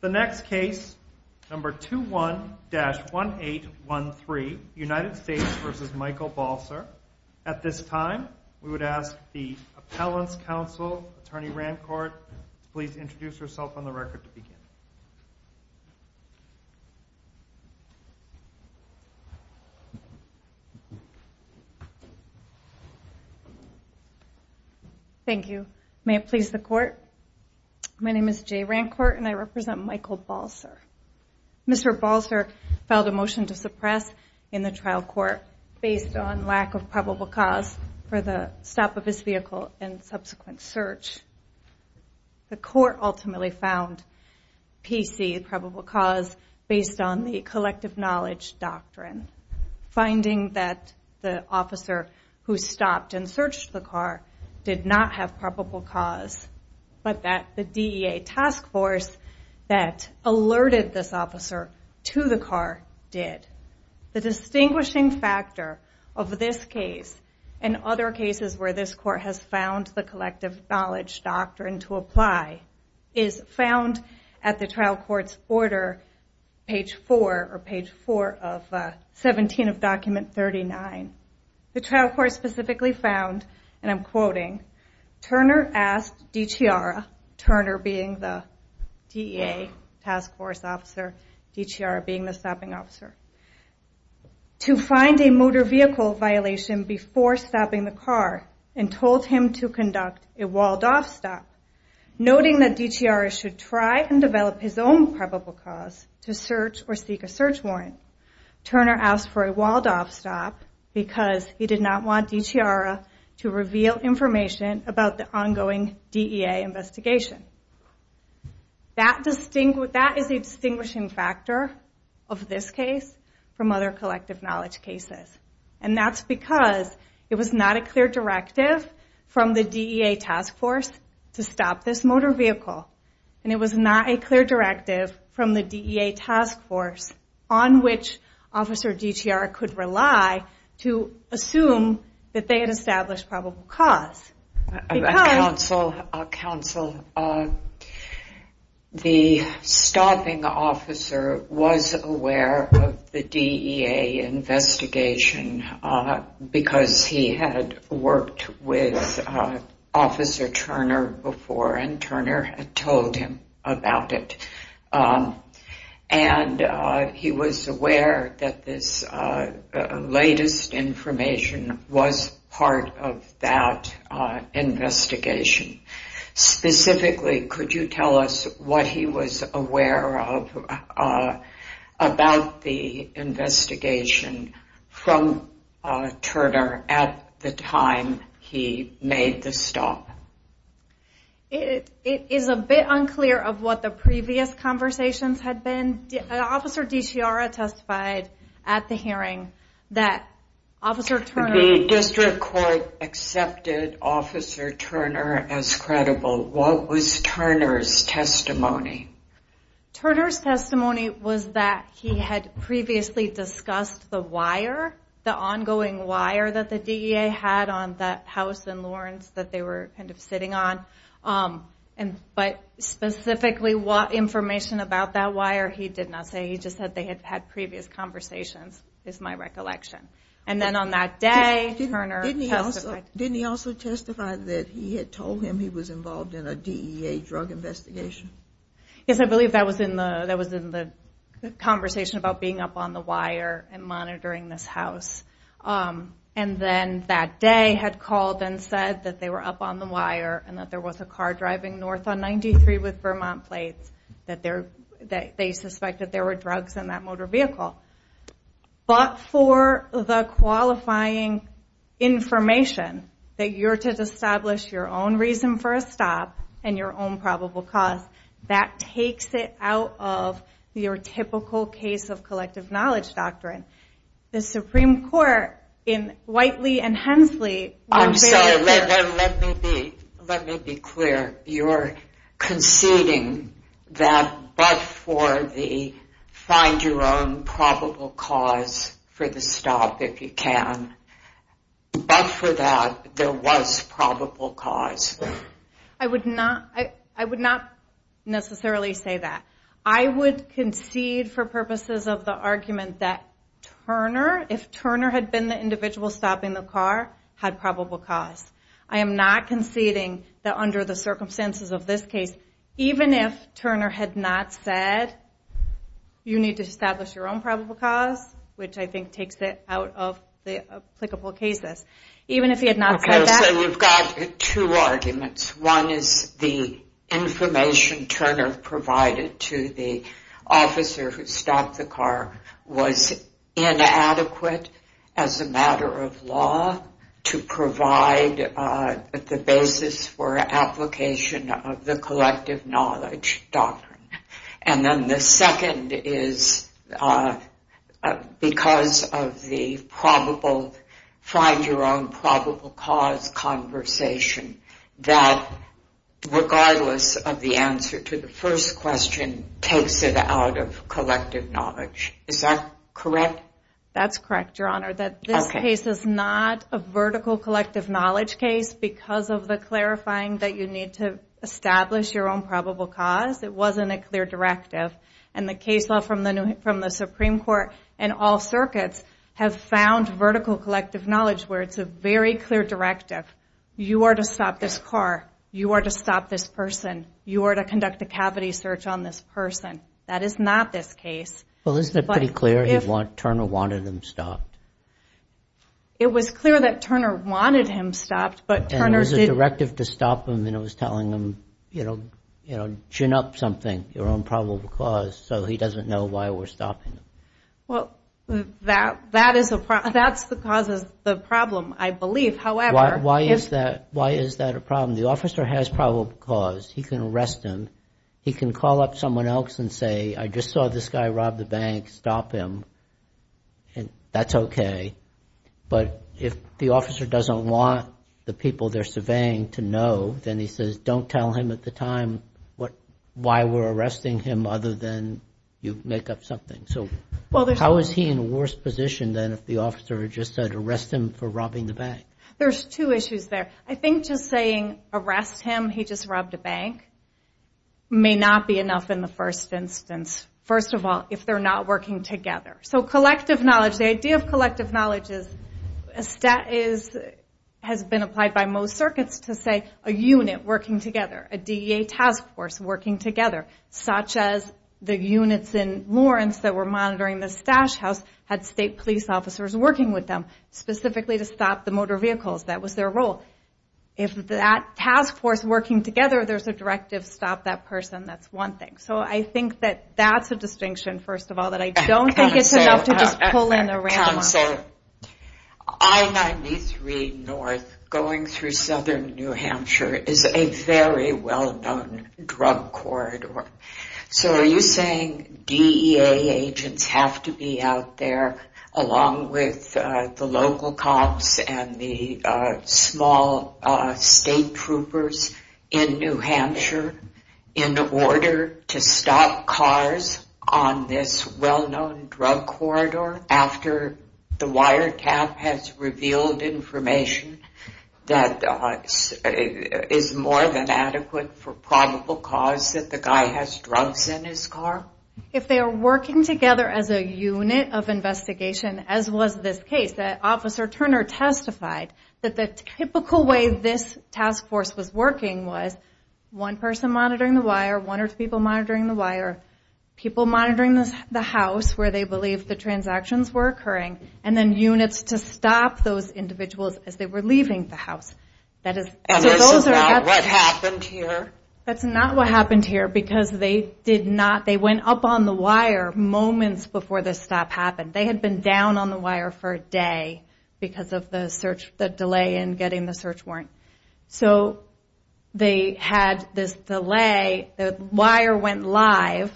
The next case, number 21-1813, United States v. Michael Balser. At this time, we would ask the Appellant's Counsel, Attorney Rancourt, to please introduce herself on the record to begin. Thank you. May it please the Court, my name is Jay Rancourt and I represent Michael Balser. Mr. Balser filed a motion to suppress in the trial court based on lack of probable cause for the stop of his vehicle and subsequent search. The court ultimately found PC, probable cause, based on the collective knowledge doctrine. Finding that the officer who stopped and searched the car did not have probable cause, but that the DEA task force that alerted this in other cases where this court has found the collective knowledge doctrine to apply is found at the trial court's order, page 4 of 17 of document 39. The trial court specifically found, and I'm quoting, Turner asked DiChiara, Turner being the DEA task force officer, DiChiara being the stopping officer, to find a motor vehicle violation before stopping the car and told him to conduct a walled-off stop, noting that DiChiara should try and develop his own probable cause to search or seek a search warrant. Turner asked for a walled-off stop because he did not want DiChiara to reveal information about the ongoing DEA investigation. That is a distinguishing factor of this case from other collective knowledge cases. And that's because it was not a clear directive from the DEA task force to stop this motor vehicle. And it was not a clear directive from the DEA task force on which Officer DiChiara could rely to assume that they had established probable cause. Counsel, the stopping officer was aware of the DEA investigation because he had worked with Officer Turner before and Turner had told him about it. And he was aware that this latest information was part of that investigation. Specifically, could you tell us what he was made the stop? It is a bit unclear of what the previous conversations had been. Officer DiChiara testified at the hearing that Officer Turner... The district court accepted Officer Turner as credible. What was Turner's testimony? Turner's testimony was that he had previously discussed the wire, the ongoing wire that the DEA had on that house in Lawrence that they were kind of sitting on. But specifically, what information about that wire, he did not say. He just said they had had previous conversations, is my recollection. And then on that day, Turner testified... Didn't he also testify that he had told him he was involved in a DEA drug investigation? Yes, I believe that was in the conversation about being up on the wire and monitoring this house. And then that day had called and said that they were up on the wire and that there was a car driving north on 93 with Vermont plates, that they suspected there were drugs in that motor vehicle. But for the qualifying information that you're to establish your own reason for a stop and your own probable cause, that takes it out of your typical case of collective knowledge doctrine. The Supreme Court in Whiteley and Hensley... I'm sorry, let me be clear. You're conceding that but for the find your own probable cause for the stop if you can, but for that there was probable cause? I would not necessarily say that. I would concede for purposes of the argument that Turner, if Turner had been the individual stopping the car, had probable cause. I am not conceding that under the circumstances of this case, even if Turner had not said you need to establish your own probable cause, which I think takes it out of the applicable cases. Even if he had not said that... Okay, so we've got two arguments. One is the information Turner provided to the officer who stopped the car was inadequate as a matter of law to provide the basis for application of the collective knowledge doctrine. And then the second is because of the find your own probable cause conversation that regardless of the answer to the first question takes it out of collective knowledge. Is that correct? That's correct, Your Honor. That this case is not a vertical collective knowledge case because of the clarifying that you need to establish your own probable cause. It wasn't a clear directive. And the case law from the Supreme Court and all circuits have found vertical collective knowledge where it's a very clear directive. You are to stop this car. You are to stop this person. You are to conduct a cavity search on this person. That is not this Turner's... And it was a directive to stop him and it was telling him chin up something, your own probable cause, so he doesn't know why we're stopping him. Well, that's the cause of the problem, I believe. However... Why is that a problem? The officer has probable cause. He can arrest him. He can call up someone else and say, I just saw this guy rob the bank, stop him. And that's okay. But if the officer doesn't want the people they're surveying to know, then he says, don't tell him at the time why we're arresting him other than you make up something. So how is he in a worse position than if the officer just said arrest him for robbing the bank? There's two issues there. I think just saying arrest him, he just robbed a bank, may not be enough in the first instance. First of all, if they're not working together. So collective knowledge, the idea of collective knowledge has been applied by most circuits to say a unit working together, a DEA task force working together, such as the units in Lawrence that were monitoring the stash house had state police officers working with them specifically to stop the motor vehicles. That was their role. If that task force working together, there's a directive, stop that person. That's one thing. So I think that that's a distinction, first of all, that I don't think it's enough to just pull in a random officer. Counsel, I-93 North going through Southern New Hampshire is a very well known drug corridor. So are you saying DEA agents have to be out there along with the local cops and the small state troopers in New Hampshire in order to stop cars on this well known drug corridor after the wiretap has revealed information that is more than adequate for probable cause that the guy has drugs in his car? If they are working together as a unit of investigation, as was this case, Officer Turner testified that the typical way this task force was working was one person monitoring the wire, one or two people monitoring the wire, people monitoring the house where they believed the transactions were occurring, and then units to stop those individuals as they were leaving the house. And that's not what happened here? That's not what happened here because they did not, they went up on the wire moments before this stop happened. They had been down on the day because of the search, the delay in getting the search warrant. So they had this delay, the wire went live,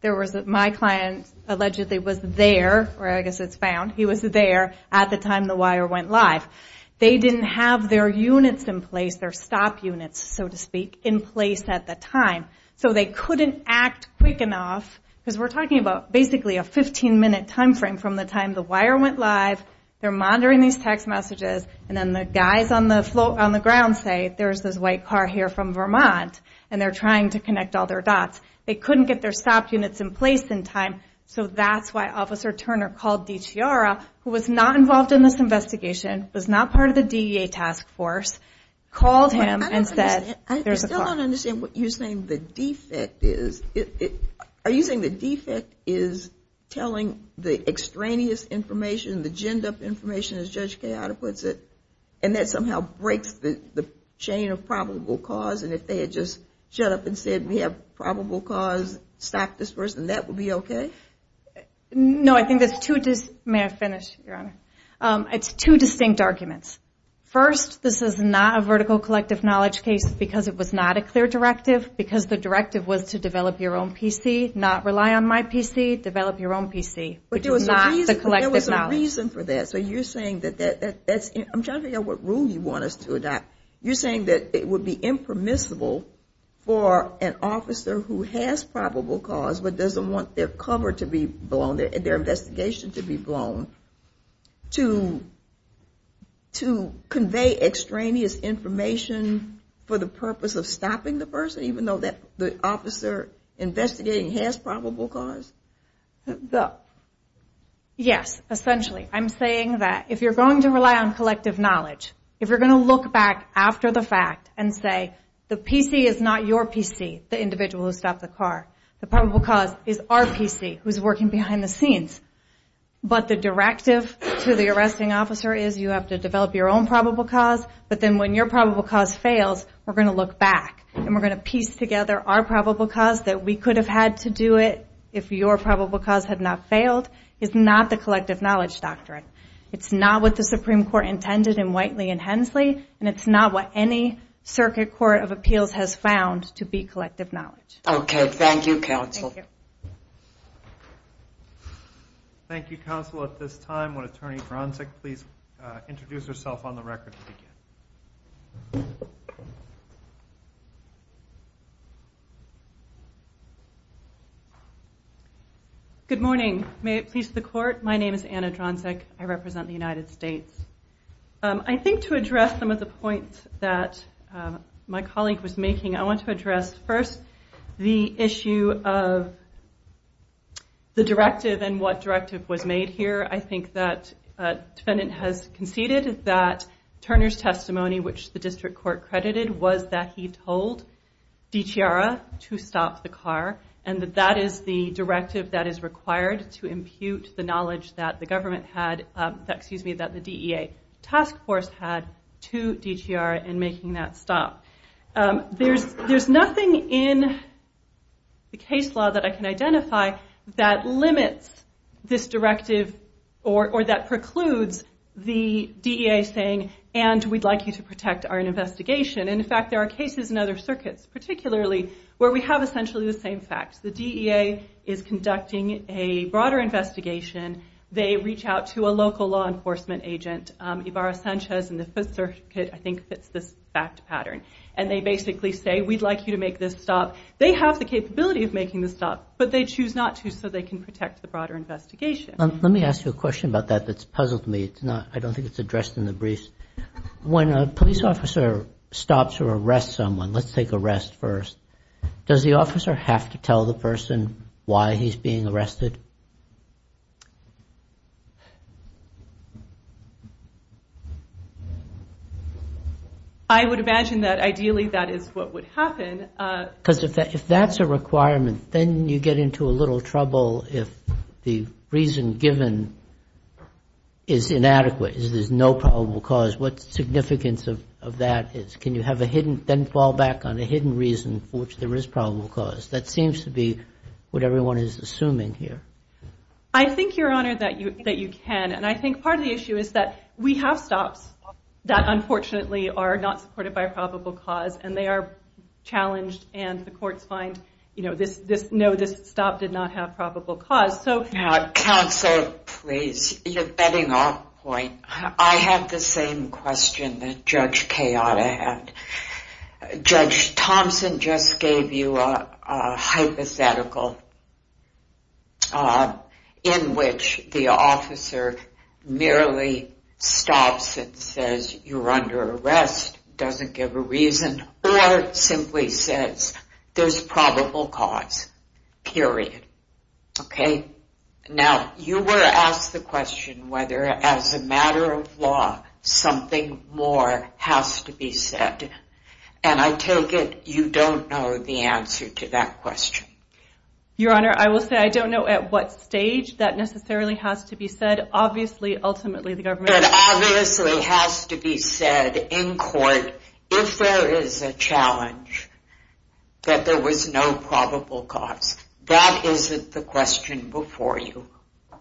there was, my client allegedly was there, or I guess it's found, he was there at the time the wire went live. They didn't have their units in place, their stop units so to speak, in place at the time. So they couldn't act quick enough, because we're talking about basically a They're monitoring these text messages, and then the guys on the ground say there's this white car here from Vermont, and they're trying to connect all their dots. They couldn't get their stop units in place in time, so that's why Officer Turner called DiChiara, who was not involved in this investigation, was not part of the DEA task force, called him and said there's a car. I still don't understand what you're saying, the defect is, are you saying the defect is telling the extraneous information, the ginned up information, as Judge Chiara puts it, and that somehow breaks the chain of probable cause, and if they had just shut up and said we have probable cause, stop this person, that would be okay? No, I think there's two, may I finish, Your Honor? It's two distinct arguments. First, this is not a vertical collective knowledge case, because it was not a clear directive, because the directive was to develop your own PC, not rely on my PC, develop your own PC, which is not the collective knowledge. But there was a reason for that, so you're saying that, I'm trying to figure out what rule you want us to adopt, you're saying that it would be impermissible for an officer who has probable cause, but doesn't want their cover to be blown, their investigation to be blown, to convey extraneous information for the purpose of stopping the person, even though the officer investigating has probable cause? Yes, essentially, I'm saying that if you're going to rely on collective knowledge, if you're going to look back after the fact and say the PC is not your PC, the individual who stopped the car, the probable cause is our PC who's working behind the scenes, but the directive to the arresting officer is you have to develop your own probable cause, but then when your probable cause fails, we're going to look back, and we're going to piece together our probable cause, that we could have had to do it if your probable cause had not failed, is not the collective knowledge doctrine. It's not what the Supreme Court intended in Whiteley and Hensley, and it's not what any circuit court of appeals has found to be collective knowledge. Okay, thank you, counsel. Thank you, counsel. At this time, would Attorney Dranzik please introduce herself on the record? Good morning. May it please the court, my name is Anna Dranzik. I represent the United States. I think to address some of the points that my colleague was making, I want to address first the issue of the directive and what directive was made here. I think that a defendant has conceded that Turner's testimony, which the district court credited, was that he told DiChiara to stop the car, and that that is the directive that is required to impute the knowledge that the DEA task force had to DiChiara in making that stop. There's nothing in the case law that I can identify that limits this directive or that precludes the DEA saying, and we'd like you to protect our investigation. In fact, there are cases in other circuits, particularly where we have essentially the same facts. The DEA is conducting a broader investigation. They reach out to a local law enforcement agent, Ibarra Sanchez, and the have the capability of making the stop, but they choose not to so they can protect the broader investigation. Let me ask you a question about that that's puzzled me. I don't think it's addressed in the briefs. When a police officer stops or arrests someone, let's take arrest first, does the officer have to tell the person why he's being arrested? I would imagine that ideally that is what would happen. Because if that's a requirement, then you get into a little trouble if the reason given is inadequate, is there's no probable cause. What significance of that is? Can you have a hidden, then fall back on a hidden reason for which there is probable cause? That seems to be what everyone is assuming here. I think, Your Honor, that you can. I think part of the issue is that we have stops that unfortunately are not supported by a probable cause and they are challenged and the courts find this stop did not have probable cause. Counsel, please, you're betting off point. I have the same question that Judge Kayotta had. Judge Thompson just gave you a hypothetical in which the officer merely stops and says, you're under arrest, doesn't give a reason, or simply says, there's probable cause, period. Okay. Now, you were asked the question whether, as a matter of law, something more has to be said, and I take it you don't know the answer to that question. Your Honor, I will say I don't know at what stage that necessarily has to be said. Obviously, ultimately, the government... It obviously has to be said in court if there is a challenge that there was no probable cause. That isn't the question before you. I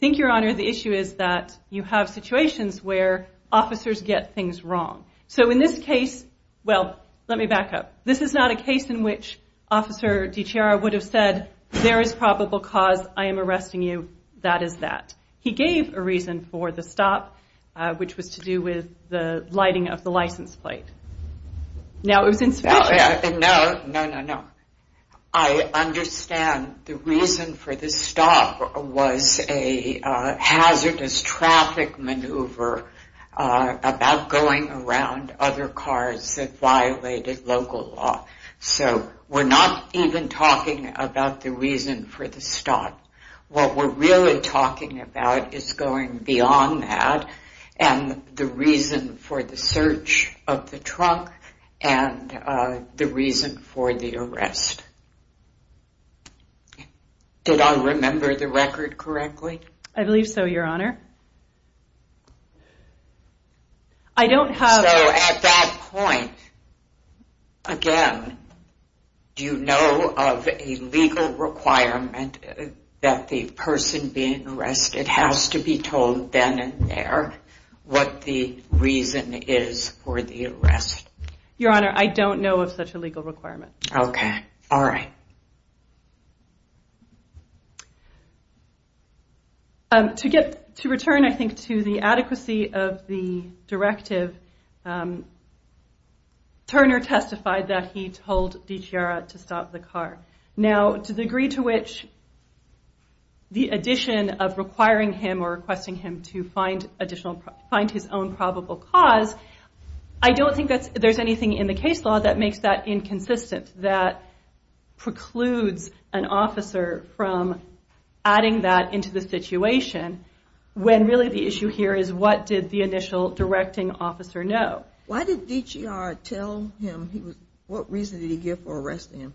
think, Your Honor, the issue is that you have situations where officers get things wrong. So, in this case, well, let me back up. This is not a case in which Officer DiCiara would have said, there is probable cause, I am arresting you, that is that. He gave a reason for the stop, which was to do with the lighting of the license plate. No, it was in Spanish. No, no, no, no. I understand the reason for the stop was a hazardous traffic maneuver about going around other cars that violated local law. So, we're not even talking about the reason for the stop. What we're really talking about is going beyond that, and the reason for the search of the trunk, and the reason for the arrest. Did I remember the record correctly? I believe so, Your Honor. I don't have... So, at that point, again, do you know of a legal requirement that the person being arrested has to be told then and there what the reason is for the arrest? Your Honor, I don't know of such a legal requirement. Okay, all right. To return, I think, to the adequacy of the directive, Turner testified that he told DiCiara to stop the car. Now, to the degree to which the addition of requiring him, or requesting him to find his own probable cause, I don't think there's anything in the case law that makes that inconsistent, that precludes an officer from adding that into the situation, when really the issue here is what did the initial directing officer know? Why did DiCiara tell him what reason did he give for arresting him?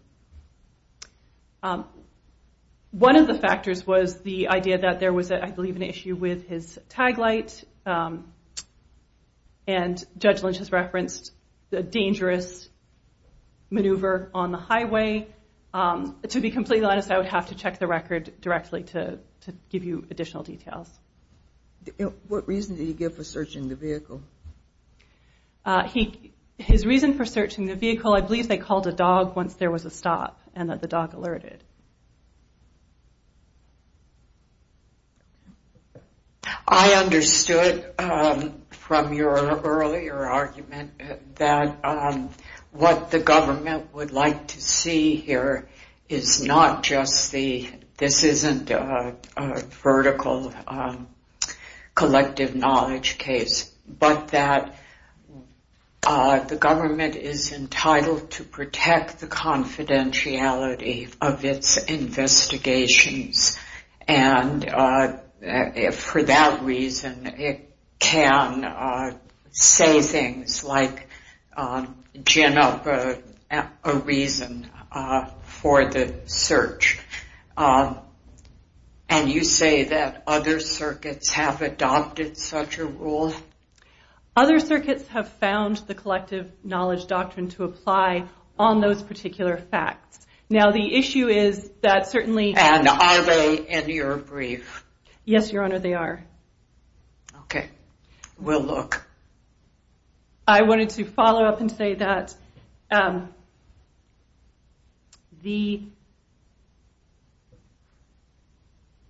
One of the factors was the idea that there was, I believe, an issue with his tag light, and Judge Lynch has referenced the dangerous maneuver on the highway. To be completely honest, I would have to check the record directly to give you additional details. What reason did he give for searching the vehicle? His reason for searching the vehicle, I believe they called a dog once there was a stop, and that the dog alerted. I understood from your earlier argument that what the government would like to see here is not just the, this isn't a vertical collective knowledge case, but that the government is entitled to protect the confidentiality of its investigations, and for that reason it can say things like gin up a reason for the search. And you say that other circuits have adopted such a rule? Other circuits have found the collective knowledge doctrine to apply on those particular facts. Now the issue is that certainly... And are they in your brief? Yes, Your Honor, they are. Okay, we'll look. I wanted to follow up and say that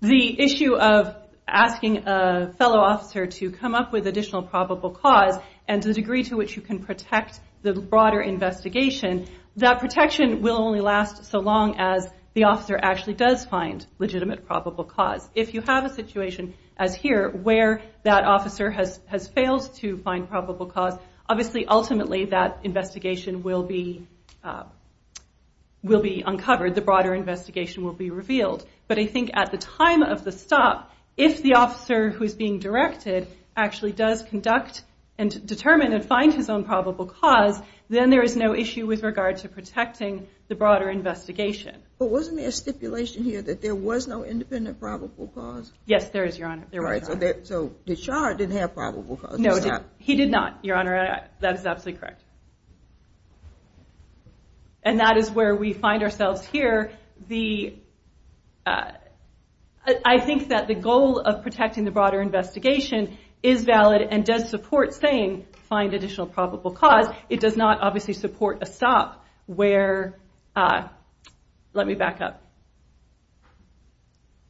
the issue of asking a fellow officer to come up with additional probable cause and the degree to which you can protect the broader investigation, that protection will only last so long as the officer actually does find legitimate probable cause. If you have a situation as here where that officer has failed to find probable cause, obviously ultimately that investigation will be uncovered, the broader investigation will be revealed. But I think at the time of the stop, if the officer who is being directed actually does conduct and determine and find his own probable cause, then there is no issue with regard to protecting the broader investigation. But wasn't there a stipulation here that there was no independent probable cause? Yes, there is, Your Honor. There was not. So the charge didn't have probable cause? No, he did not, Your Honor. That is absolutely correct. And that is where we find ourselves here. I think that the goal of protecting the broader investigation is valid and does support saying find additional probable cause. It does not obviously support a stop where, let me back up,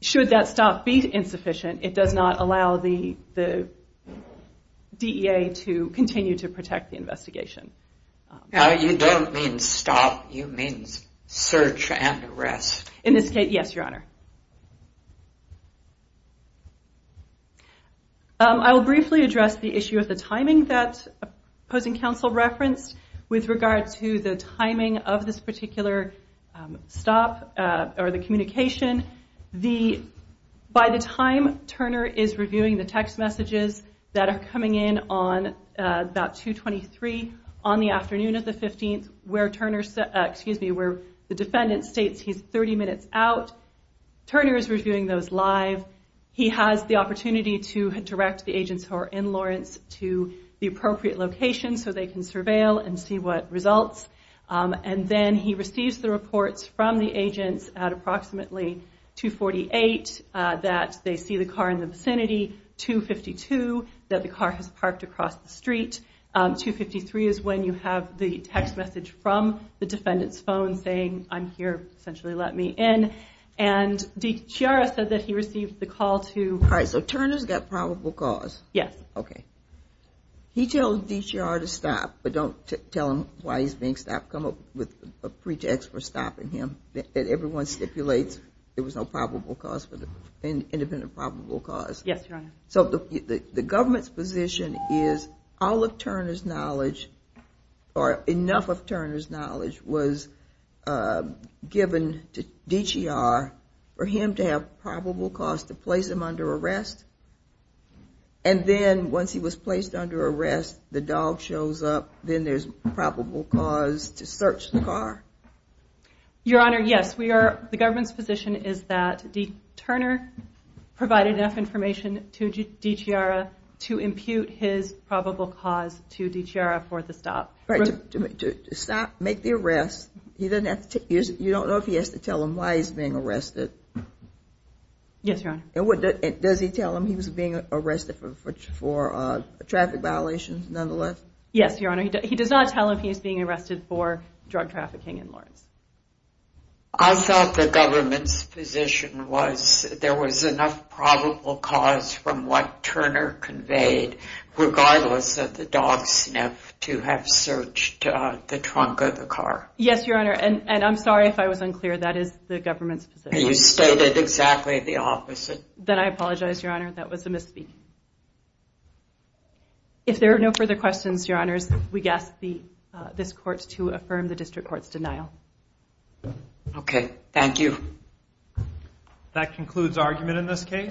should that stop be insufficient, it does not allow the DEA to continue to protect the investigation. You don't mean stop, you mean search and arrest. In this case, yes, Your Honor. I will briefly address the issue of the timing that opposing counsel referenced with regard to the timing of this particular stop or the communication. By the time Turner is reviewing the text messages that are coming in on about 2.23 on the afternoon of the 15th where the defendant states he's 30 minutes out, Turner is reviewing those live. He has the opportunity to direct the agents who are in Lawrence to the appropriate location so they can surveil and see what results. And then he receives the reports from the agents at approximately 2.48 that they see the car in the vicinity, 2.52 that the car has parked across the street, 2.53 is when you have the text message from the defendant's phone saying, I'm here, essentially let me in. And DCR has said that he received the call to- All right, so Turner's got probable cause. Yes. Okay. He tells DCR to stop, but don't tell him why he's being stopped. Come up with a pretext for stopping him that everyone stipulates there was no probable cause, independent probable cause. Yes, Your Honor. So the government's position is all of Turner's knowledge or enough of Turner's knowledge was given to DCR for him to have probable cause to place him under arrest? And then once he was placed under arrest, the dog shows up, then there's probable cause to search the car? Your Honor, yes. The government's position is that Turner provided enough information to DCR to impute his probable cause to DCR for the stop. All right, to stop, make the arrest, you don't know if he has to tell him why he's being arrested? Yes, Your Honor. And does he tell him he was being arrested for traffic violations, nonetheless? Yes, Your Honor. He does not tell him he's being arrested for drug trafficking in Lawrence. I thought the government's position was there was enough probable cause from what Turner conveyed, regardless of the dog sniff, to have searched the trunk of the car. Yes, Your Honor. And I'm sorry if I was unclear. That is the government's position. You stated exactly the opposite. Then I apologize, Your Honor. That was a misspeak. If there are no further questions, Your Honors, we ask this court to affirm the district court's denial. Okay, thank you. That concludes argument in this case.